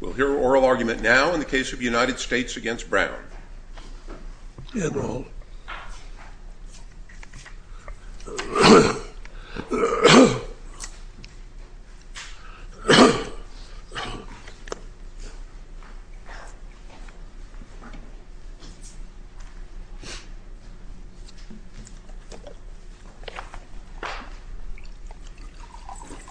We'll hear oral argument now in the case of United States v. Brown. General. Good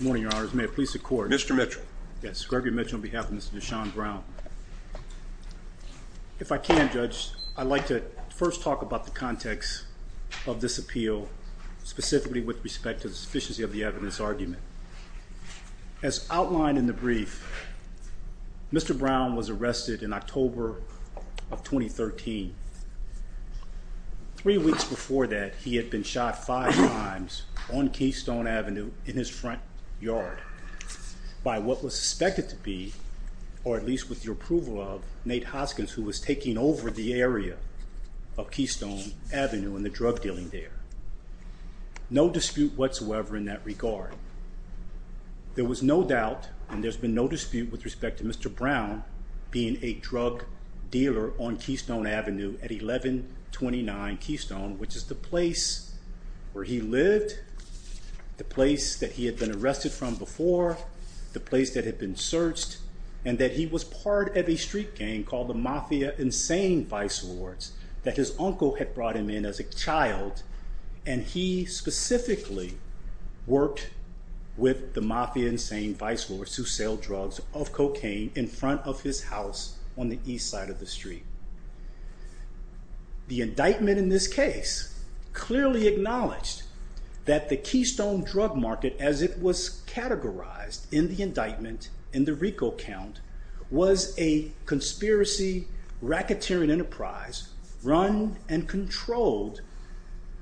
morning, your honors. May it please the court. Mr. Mitchell. Yes, Gregory Mitchell on behalf of Mr. Deshaun Brown. If I can, Judge, I'd like to first talk about the context of this appeal, specifically with respect to the sufficiency of the evidence argument. As outlined in the brief, Mr. Brown was arrested in October of 2013. Three weeks before that, he had been shot five times on Keystone Avenue in his front yard by what was suspected to be, or at least with the approval of, Nate Hoskins, who was taking over the area of Keystone Avenue and the drug dealing there. No dispute whatsoever in that regard. There was no doubt and there's been no dispute with respect to Mr. Brown being a drug dealer on Keystone Avenue at 1129 Keystone, which is the place where he lived, the place that he had been arrested from before, the place that had been searched, and that he was part of a street gang called the Mafia Insane Vice Lords that his uncle had brought him in as a child, and he specifically worked with the Mafia Insane Vice Lords who sell drugs of cocaine in front of his house on the east side of the street. The indictment in this case clearly acknowledged that the Keystone drug market as it was categorized in the indictment in the RICO count was a conspiracy racketeering enterprise run and controlled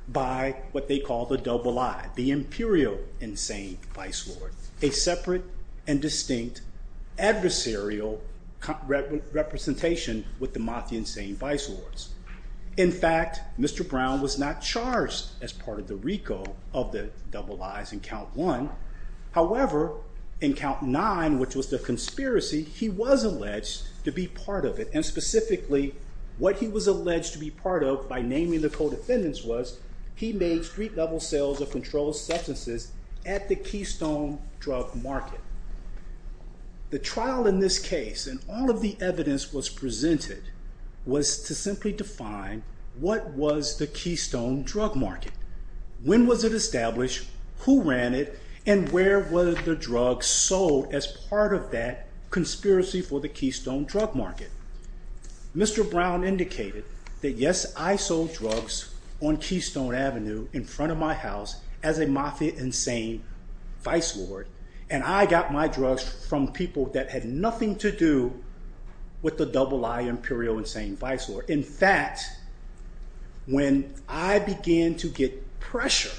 by what they call the double I, the Imperial Insane Vice Lord, a separate and distinct adversarial representation with the Mafia Insane Vice Lords. In fact, Mr. Brown was not charged as part of the RICO of the double I's in count one. However, in count nine, which was the conspiracy, he was alleged to be part of it, and specifically what he was alleged to be part of by naming the co-defendants was he made street-level sales of controlled substances at the Keystone drug market. The trial in this case and all of the evidence was presented was to simply define what was the Keystone drug market, when was it established, who ran it, and where were the drugs sold as part of that conspiracy for the Keystone drug market. Mr. Brown indicated that yes, I sold drugs on Keystone Avenue in front of my house as a Mafia Insane Vice Lord, and I got my drugs from people that had nothing to do with the double I Imperial Insane Vice Lord. In fact, when I began to get pressure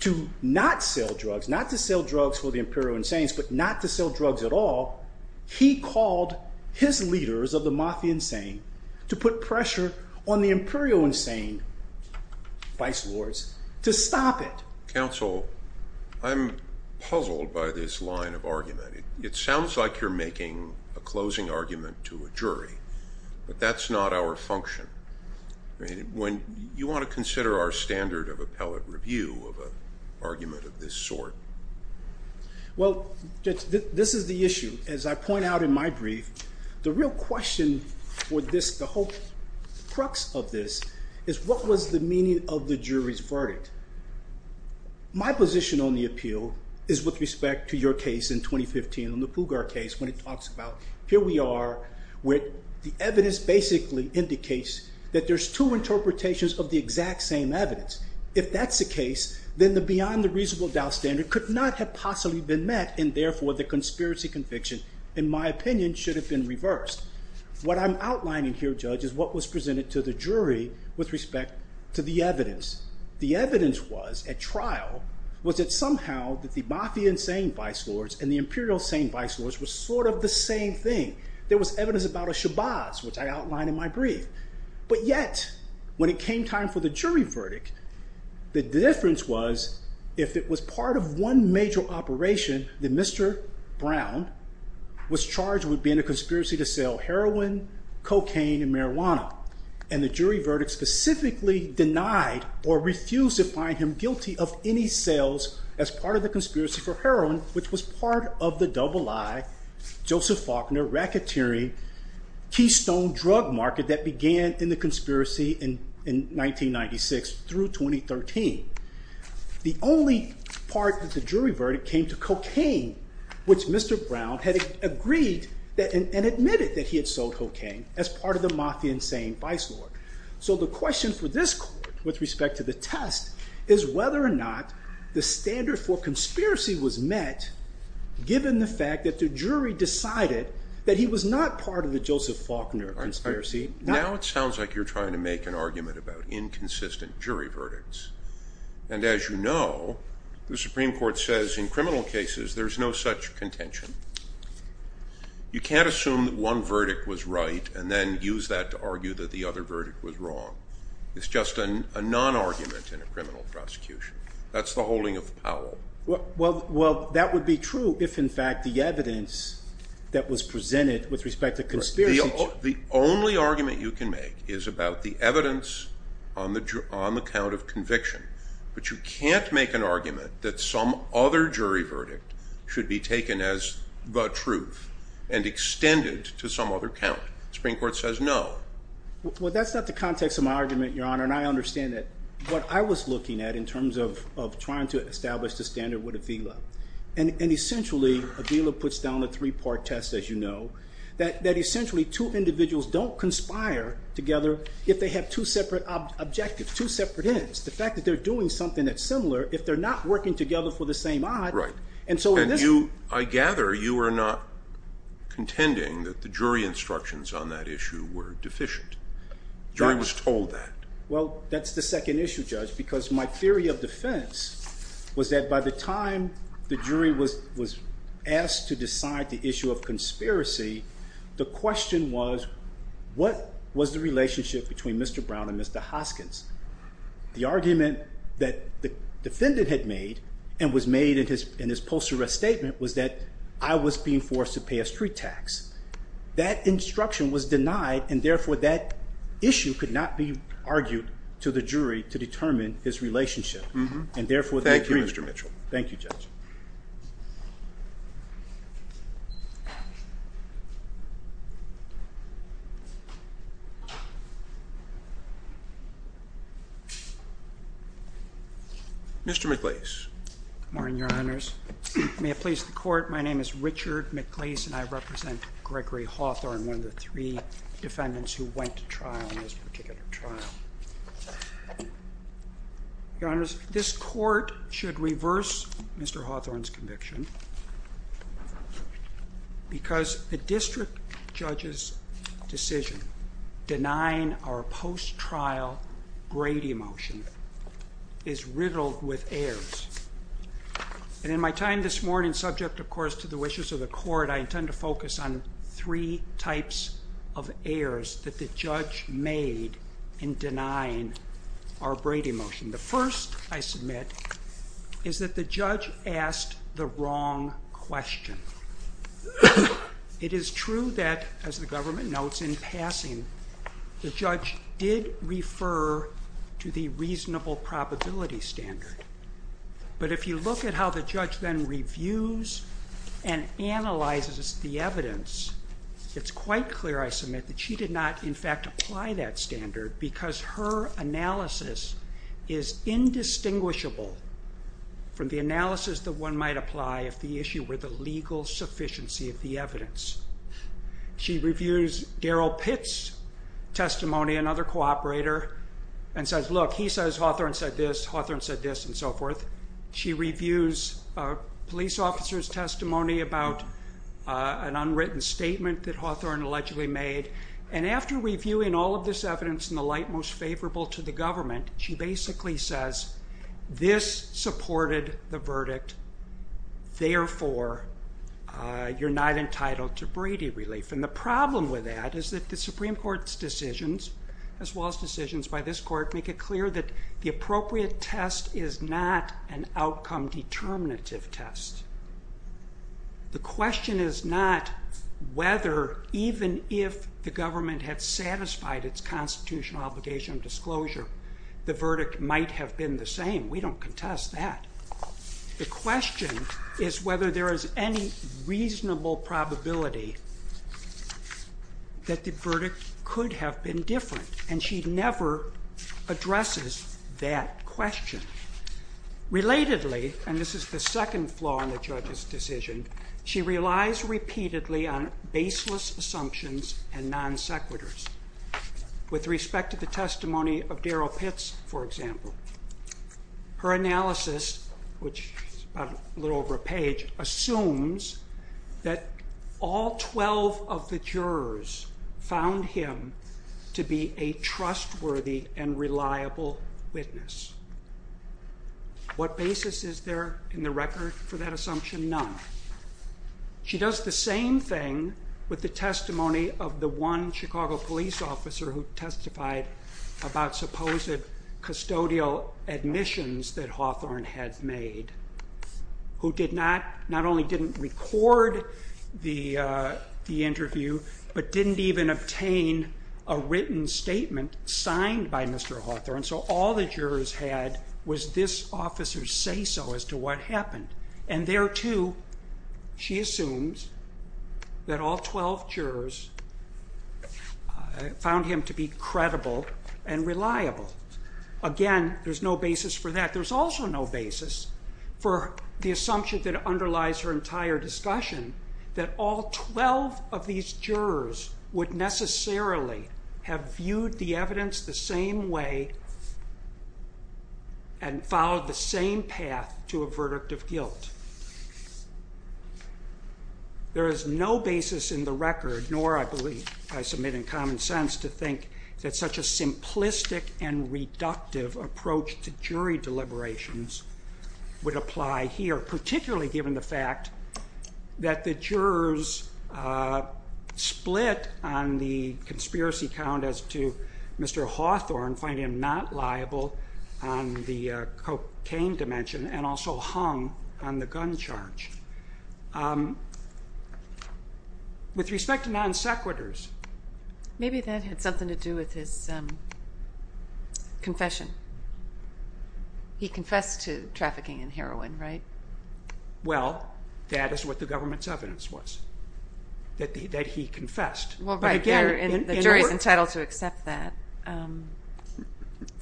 to not sell drugs, not to sell drugs for the Imperial Insane, but not to sell drugs at all, he called his leaders of the Mafia Insane to put pressure on the Imperial Insane Vice Lords to stop it. Counsel, I'm puzzled by this line of argument. It sounds like you're making a closing argument to a jury, but that's not our function. You want to consider our standard of appellate review of an argument of this sort? Well, this is the issue. As I point out in my brief, the real question for this, the whole crux of this, is what was the meaning of the jury's verdict? My position on the appeal is with respect to your case in 2015, on the Pugar case, when it talks about here we are, where the evidence basically indicates that there's two interpretations of the exact same evidence. If that's the case, then the beyond the reasonable doubt standard could not have possibly been met, and therefore the conspiracy conviction, in my opinion, should have been reversed. What I'm outlining here, Judge, is what was presented to the jury with respect to the evidence. The evidence was, at trial, was that somehow that the Mafia Insane Vice Lords and the Imperial Insane Vice Lords were sort of the same thing. There was evidence about a Shabazz, which I outlined in my brief. But yet, when it came time for the jury verdict, the difference was, if it was part of one major operation, then Mr. Brown was charged with being a conspiracy to sell heroin, cocaine, and marijuana. And the jury verdict specifically denied or refused to find him guilty of any sales as part of the conspiracy for heroin, which was part of the double-I, Joseph Faulkner, Racketeering, Keystone drug market that began in the conspiracy in 1996 through 2013. The only part of the jury verdict came to cocaine, which Mr. Brown had agreed and admitted that he had sold cocaine as part of the Mafia Insane Vice Lord. So the question for this court, with respect to the test, is whether or not the standard for conspiracy was met given the fact that the jury decided that he was not part of the Joseph Faulkner conspiracy. Now it sounds like you're trying to make an argument about inconsistent jury verdicts. And as you know, the Supreme Court says in criminal cases there's no such contention. You can't assume that one verdict was right and then use that to argue that the other verdict was wrong. It's just a non-argument in a criminal prosecution. That's the holding of Powell. Well, that would be true if, in fact, the evidence that was presented with respect to conspiracy... The only argument you can make is about the evidence on the count of conviction. But you can't make an argument that some other jury verdict should be taken as the truth and extended to some other count. The Supreme Court says no. Well, that's not the context of my argument, Your Honor, and I understand that what I was looking at in terms of trying to establish the standard with Avila, and essentially Avila puts down a three-part test, as you know, that essentially two individuals don't conspire together if they have two separate objectives, two separate ends, the fact that they're doing something that's similar if they're not working together for the same odd. Right. And I gather you are not contending that the jury instructions on that issue were deficient. The jury was told that. Well, that's the second issue, Judge, because my theory of defense was that by the time the jury was asked to decide the issue of conspiracy, the question was, what was the relationship between Mr. Brown and Mr. Hoskins? The argument that the defendant had made and was made in his post-arrest statement was that I was being forced to pay a street tax. That instruction was denied, and therefore that issue could not be argued to the jury to determine his relationship, and therefore the agreement. Thank you, Mr. Mitchell. Thank you, Judge. Mr. McLeese. Good morning, Your Honors. May it please the Court, my name is Richard McLeese, and I represent Gregory Hawthorne, one of the three defendants who went to trial in this particular trial. Your Honors, this Court should reverse Mr. Hawthorne's conviction because the district judge's decision denying our post-trial Grady motion is riddled with errors. And in my time this morning, subject, of course, to the wishes of the Court, I intend to focus on three types of errors that the judge made in denying our Grady motion. The first, I submit, is that the judge asked the wrong question. It is true that, as the government notes in passing, the judge did refer to the reasonable probability standard. But if you look at how the judge then reviews and analyzes the evidence, it's quite clear, I submit, that she did not, in fact, apply that standard because her analysis is indistinguishable from the analysis that one might apply if the issue were the legal sufficiency of the evidence. She reviews Darrell Pitt's testimony, another cooperator, and says, look, he says Hawthorne said this, Hawthorne said this, and so forth. She reviews a police officer's testimony about an unwritten statement that Hawthorne allegedly made. And after reviewing all of this evidence in the light most favorable to the government, she basically says, this supported the verdict, therefore you're not entitled to Brady relief. And the problem with that is that the Supreme Court's decisions, as well as decisions by this court, make it clear that the appropriate test is not an outcome determinative test. The question is not whether, even if the government had satisfied its constitutional obligation of disclosure, the verdict might have been the same. We don't contest that. The question is whether there is any reasonable probability that the verdict could have been different. And she never addresses that question. Relatedly, and this is the second flaw in the judge's decision, she relies repeatedly on baseless assumptions and non sequiturs. With respect to the testimony of Darrell Pitt, for example, her analysis, which is a little over a page, assumes that all 12 of the jurors found him to be a trustworthy and reliable witness. What basis is there in the record for that assumption? None. She does the same thing with the testimony of the one Chicago police officer who testified about supposed custodial admissions that Hawthorne had made, who not only didn't record the interview, but didn't even obtain a written statement signed by Mr. Hawthorne. So all the jurors had was this officer's say-so as to what happened. And there, too, she assumes that all 12 jurors found him to be credible and reliable. Again, there's no basis for that. There's also no basis for the assumption that underlies her entire discussion that all 12 of these jurors would necessarily have viewed the evidence the same way and followed the same path to a verdict of guilt. There is no basis in the record, nor I believe I submit in common sense, to think that such a simplistic and reductive approach to jury deliberations would apply here, particularly given the fact that the jurors split on the conspiracy count as to Mr. Hawthorne finding him not liable on the cocaine dimension and also hung on the gun charge. With respect to non-sequiturs... Maybe that had something to do with his confession. He confessed to trafficking in heroin, right? Well, that is what the government's evidence was, that he confessed. Well, right, and the jury's entitled to accept that. So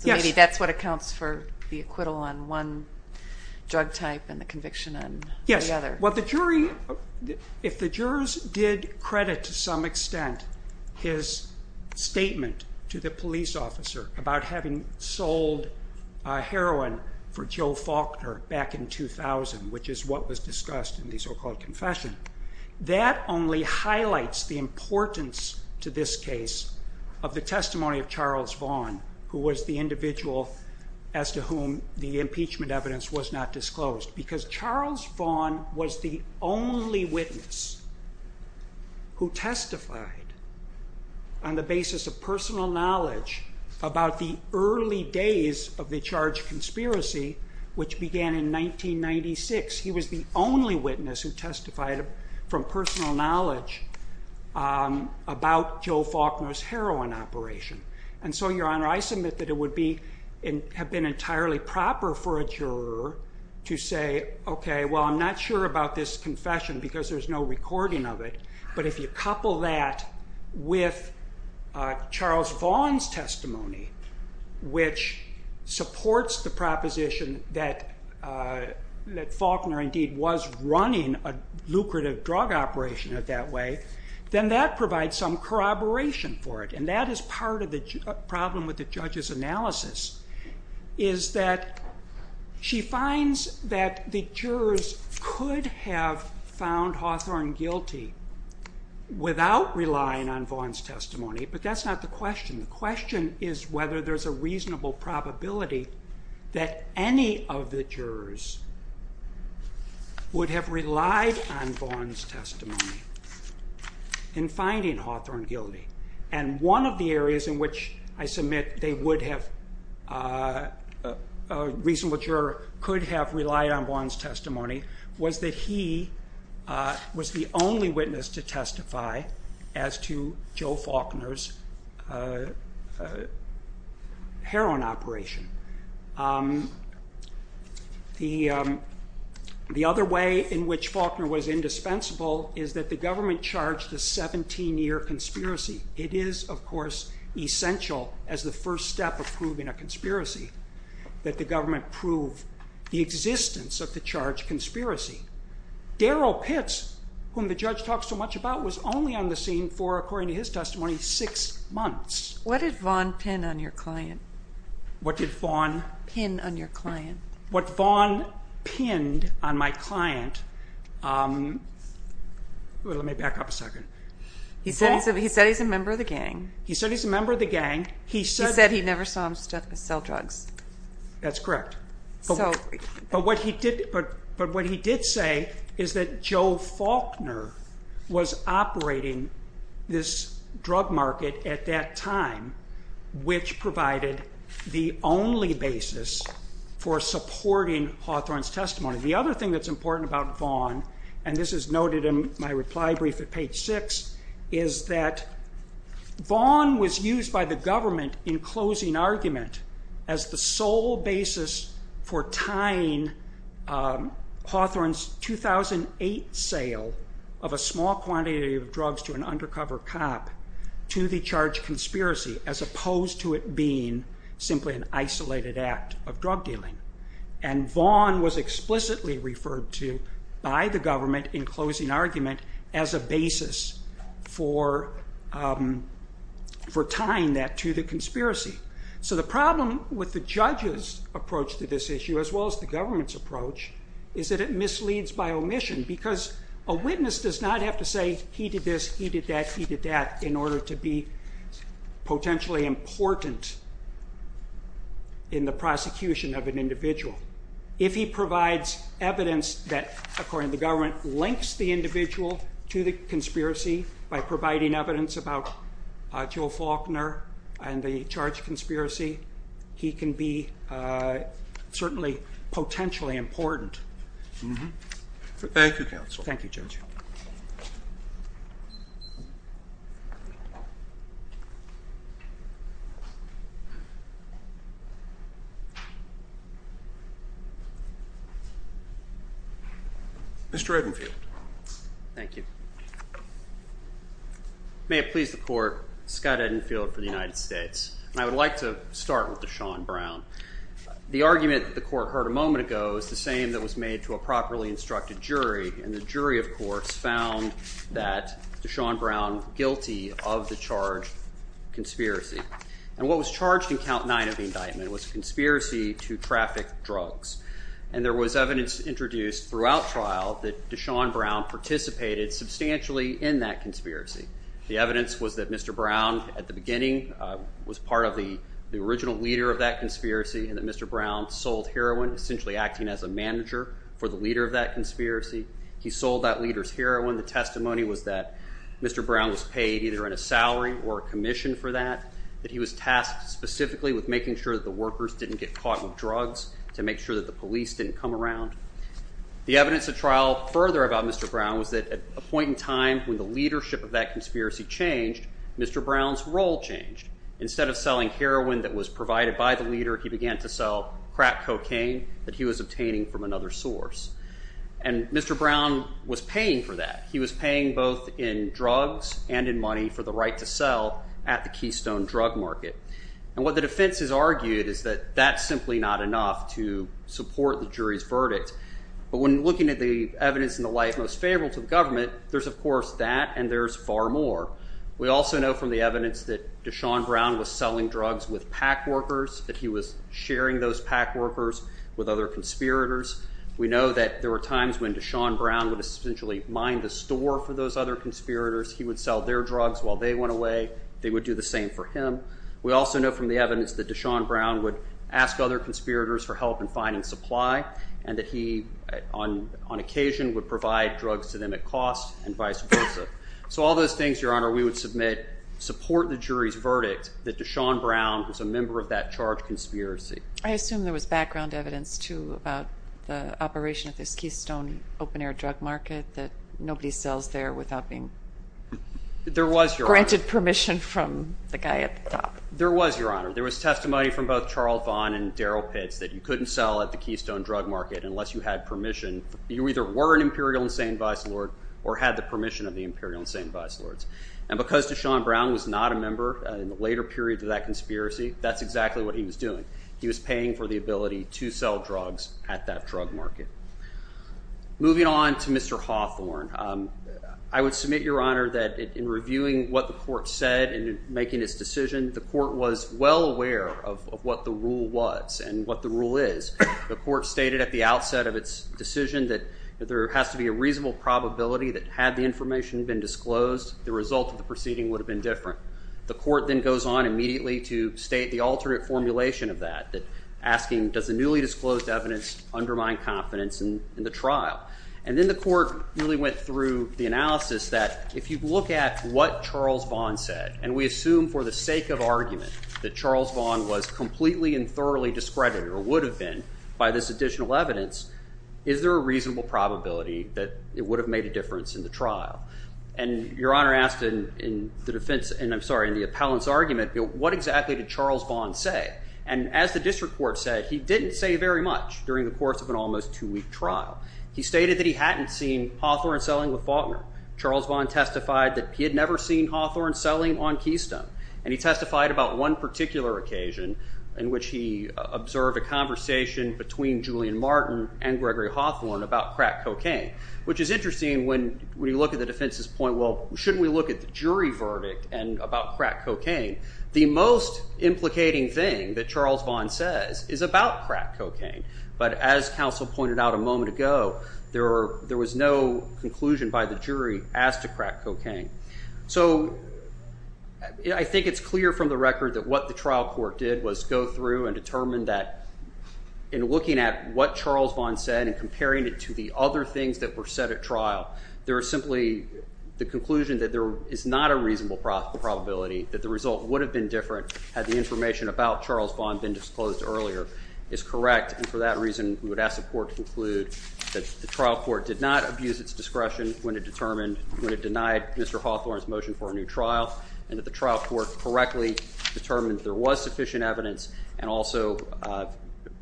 maybe that's what accounts for the acquittal on one drug type and the conviction on the other. Yes. If the jurors did credit to some extent his statement to the police officer about having sold heroin for Joe Faulkner back in 2000, which is what was discussed in the so-called confession, that only highlights the importance to this case of the testimony of Charles Vaughan, who was the individual as to whom the impeachment evidence was not disclosed, because Charles Vaughan was the only witness who testified on the basis of personal knowledge about the early days of the charge conspiracy, which began in 1996. He was the only witness who testified from personal knowledge about Joe Faulkner's heroin operation. And so, Your Honour, I submit that it would have been entirely proper for a juror to say, OK, well, I'm not sure about this confession because there's no recording of it, but if you couple that with Charles Vaughan's testimony, which supports the proposition that Faulkner indeed was running a lucrative drug operation in that way, then that provides some corroboration for it. And that is part of the problem with the judge's analysis, is that she finds that the jurors could have found Hawthorne guilty without relying on Vaughan's testimony, but that's not the question. The question is whether there's a reasonable probability that any of the jurors would have relied on Vaughan's testimony in finding Hawthorne guilty. And one of the areas in which I submit they would have, a reasonable juror could have relied on Vaughan's testimony, as to Joe Faulkner's heroin operation. The other way in which Faulkner was indispensable is that the government charged a 17-year conspiracy. It is, of course, essential as the first step of proving a conspiracy that the government prove the existence of the charged conspiracy. Darryl Pitts, whom the judge talks so much about, was only on the scene for, according to his testimony, six months. What did Vaughan pin on your client? What did Vaughan pin on my client? Let me back up a second. He said he's a member of the gang. He said he's a member of the gang. He said he never saw him sell drugs. That's correct. But what he did say is that Joe Faulkner was operating this drug market at that time, which provided the only basis for supporting Hawthorne's testimony. The other thing that's important about Vaughan, and this is noted in my reply brief at page 6, is that Vaughan was used by the government in closing argument as the sole basis for tying Hawthorne's 2008 sale of a small quantity of drugs to an undercover cop to the charged conspiracy, as opposed to it being simply an isolated act of drug dealing. Vaughan was explicitly referred to by the government in closing argument as a basis for tying that to the conspiracy. So the problem with the judge's approach to this issue, as well as the government's approach, is that it misleads by omission, because a witness does not have to say, he did this, he did that, he did that, in order to be potentially important in the prosecution of an individual. If he provides evidence that, according to the government, links the individual to the conspiracy by providing evidence about Joe Faulkner and the charged conspiracy, he can be certainly potentially important. Thank you, counsel. Thank you, Judge. Mr. Redenfield. Thank you. May it please the Court, Scott Redenfield for the United States. And I would like to start with Deshaun Brown. The argument that the Court heard a moment ago is the same that was made to a properly instructed jury, and the jury, of course, found that Deshaun Brown guilty of the charged conspiracy. And what was charged in Count 9 of the indictment was a conspiracy to traffic drugs. And there was evidence introduced throughout trial that Deshaun Brown participated substantially in that conspiracy. The evidence was that Mr. Brown, at the beginning, was part of the original leader of that conspiracy, and that Mr. Brown sold heroin, essentially acting as a manager for the leader of that conspiracy. He sold that leader's heroin. The testimony was that Mr. Brown was paid either in a salary or a commission for that, that he was tasked specifically with making sure that the workers didn't get caught with drugs to make sure that the police didn't come around. The evidence at trial further about Mr. Brown was that at a point in time when the leadership of that conspiracy changed, Mr. Brown's role changed. Instead of selling heroin that was provided by the leader, he began to sell crack cocaine that he was obtaining from another source. And Mr. Brown was paying for that. He was paying both in drugs and in money for the right to sell at the Keystone drug market. And what the defense has argued is that that's simply not enough to support the jury's verdict. But when looking at the evidence in the light most favorable to the government, there's of course that and there's far more. We also know from the evidence that Deshaun Brown was selling drugs with PAC workers, that he was sharing those PAC workers with other conspirators. We know that there were times when Deshaun Brown would essentially mine the store for those other conspirators. He would sell their drugs while they went away. They would do the same for him. We also know from the evidence that Deshaun Brown would ask other conspirators for help in finding supply and that he, on occasion, would provide drugs to them at cost and vice versa. So all those things, Your Honor, we would submit support the jury's verdict that Deshaun Brown was a member of that charged conspiracy. I assume there was background evidence, too, about the operation at this Keystone open-air drug market that nobody sells there without being... There was, Your Honor. ...granted permission from the guy at the top. There was, Your Honor. There was testimony from both Charles Vaughn and Daryl Pitts that you couldn't sell at the Keystone drug market unless you had permission. You either were an imperial and sane vice lord or had the permission of the imperial and sane vice lords. And because Deshaun Brown was not a member in the later period of that conspiracy, that's exactly what he was doing. He was paying for the ability to sell drugs at that drug market. Moving on to Mr. Hawthorne, I would submit, Your Honor, that in reviewing what the court said and making its decision, the court was well aware of what the rule was and what the rule is. The court stated at the outset of its decision that there has to be a reasonable probability that had the information been disclosed, the result of the proceeding would have been different. The court then goes on immediately to state the alternate formulation of that, asking, does the newly disclosed evidence undermine confidence in the trial? And then the court really went through the analysis that if you look at what Charles Vaughn said, and we assume for the sake of argument that Charles Vaughn was completely and thoroughly discredited or would have been by this additional evidence, is there a reasonable probability that it would have made a difference in the trial? And Your Honor asked in the defense, and I'm sorry, in the appellant's argument, what exactly did Charles Vaughn say? And as the district court said, he didn't say very much during the course of an almost two-week trial. He stated that he hadn't seen Hawthorne selling with Faulkner. Charles Vaughn testified that he had never seen Hawthorne Keystone, and he testified about one particular occasion in which he observed a conversation between Julian Martin and Gregory Hawthorne about crack cocaine, which is interesting when you look at the defense's point, well, shouldn't we look at the jury verdict and about crack cocaine? The most implicating thing that Charles Vaughn says is about crack cocaine, but as counsel pointed out a moment ago, there was no conclusion by the jury as to crack cocaine. So I think it's clear from the record that what the trial court did was go through and determine that in looking at what Charles Vaughn said and comparing it to the other things that were said at trial, there was simply the conclusion that there is not a reasonable probability that the result would have been different had the information about Charles Vaughn been disclosed earlier is correct, and for that reason, we would ask the court to conclude that the trial court did not abuse its discretion when it denied Mr. Hawthorne's motion for a new trial, and that the trial court correctly determined that there was sufficient evidence and also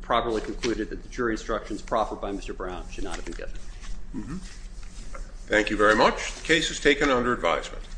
properly concluded that the jury instructions proffered by Mr. Brown should not have been given. Thank you very much. The case is taken under advisement.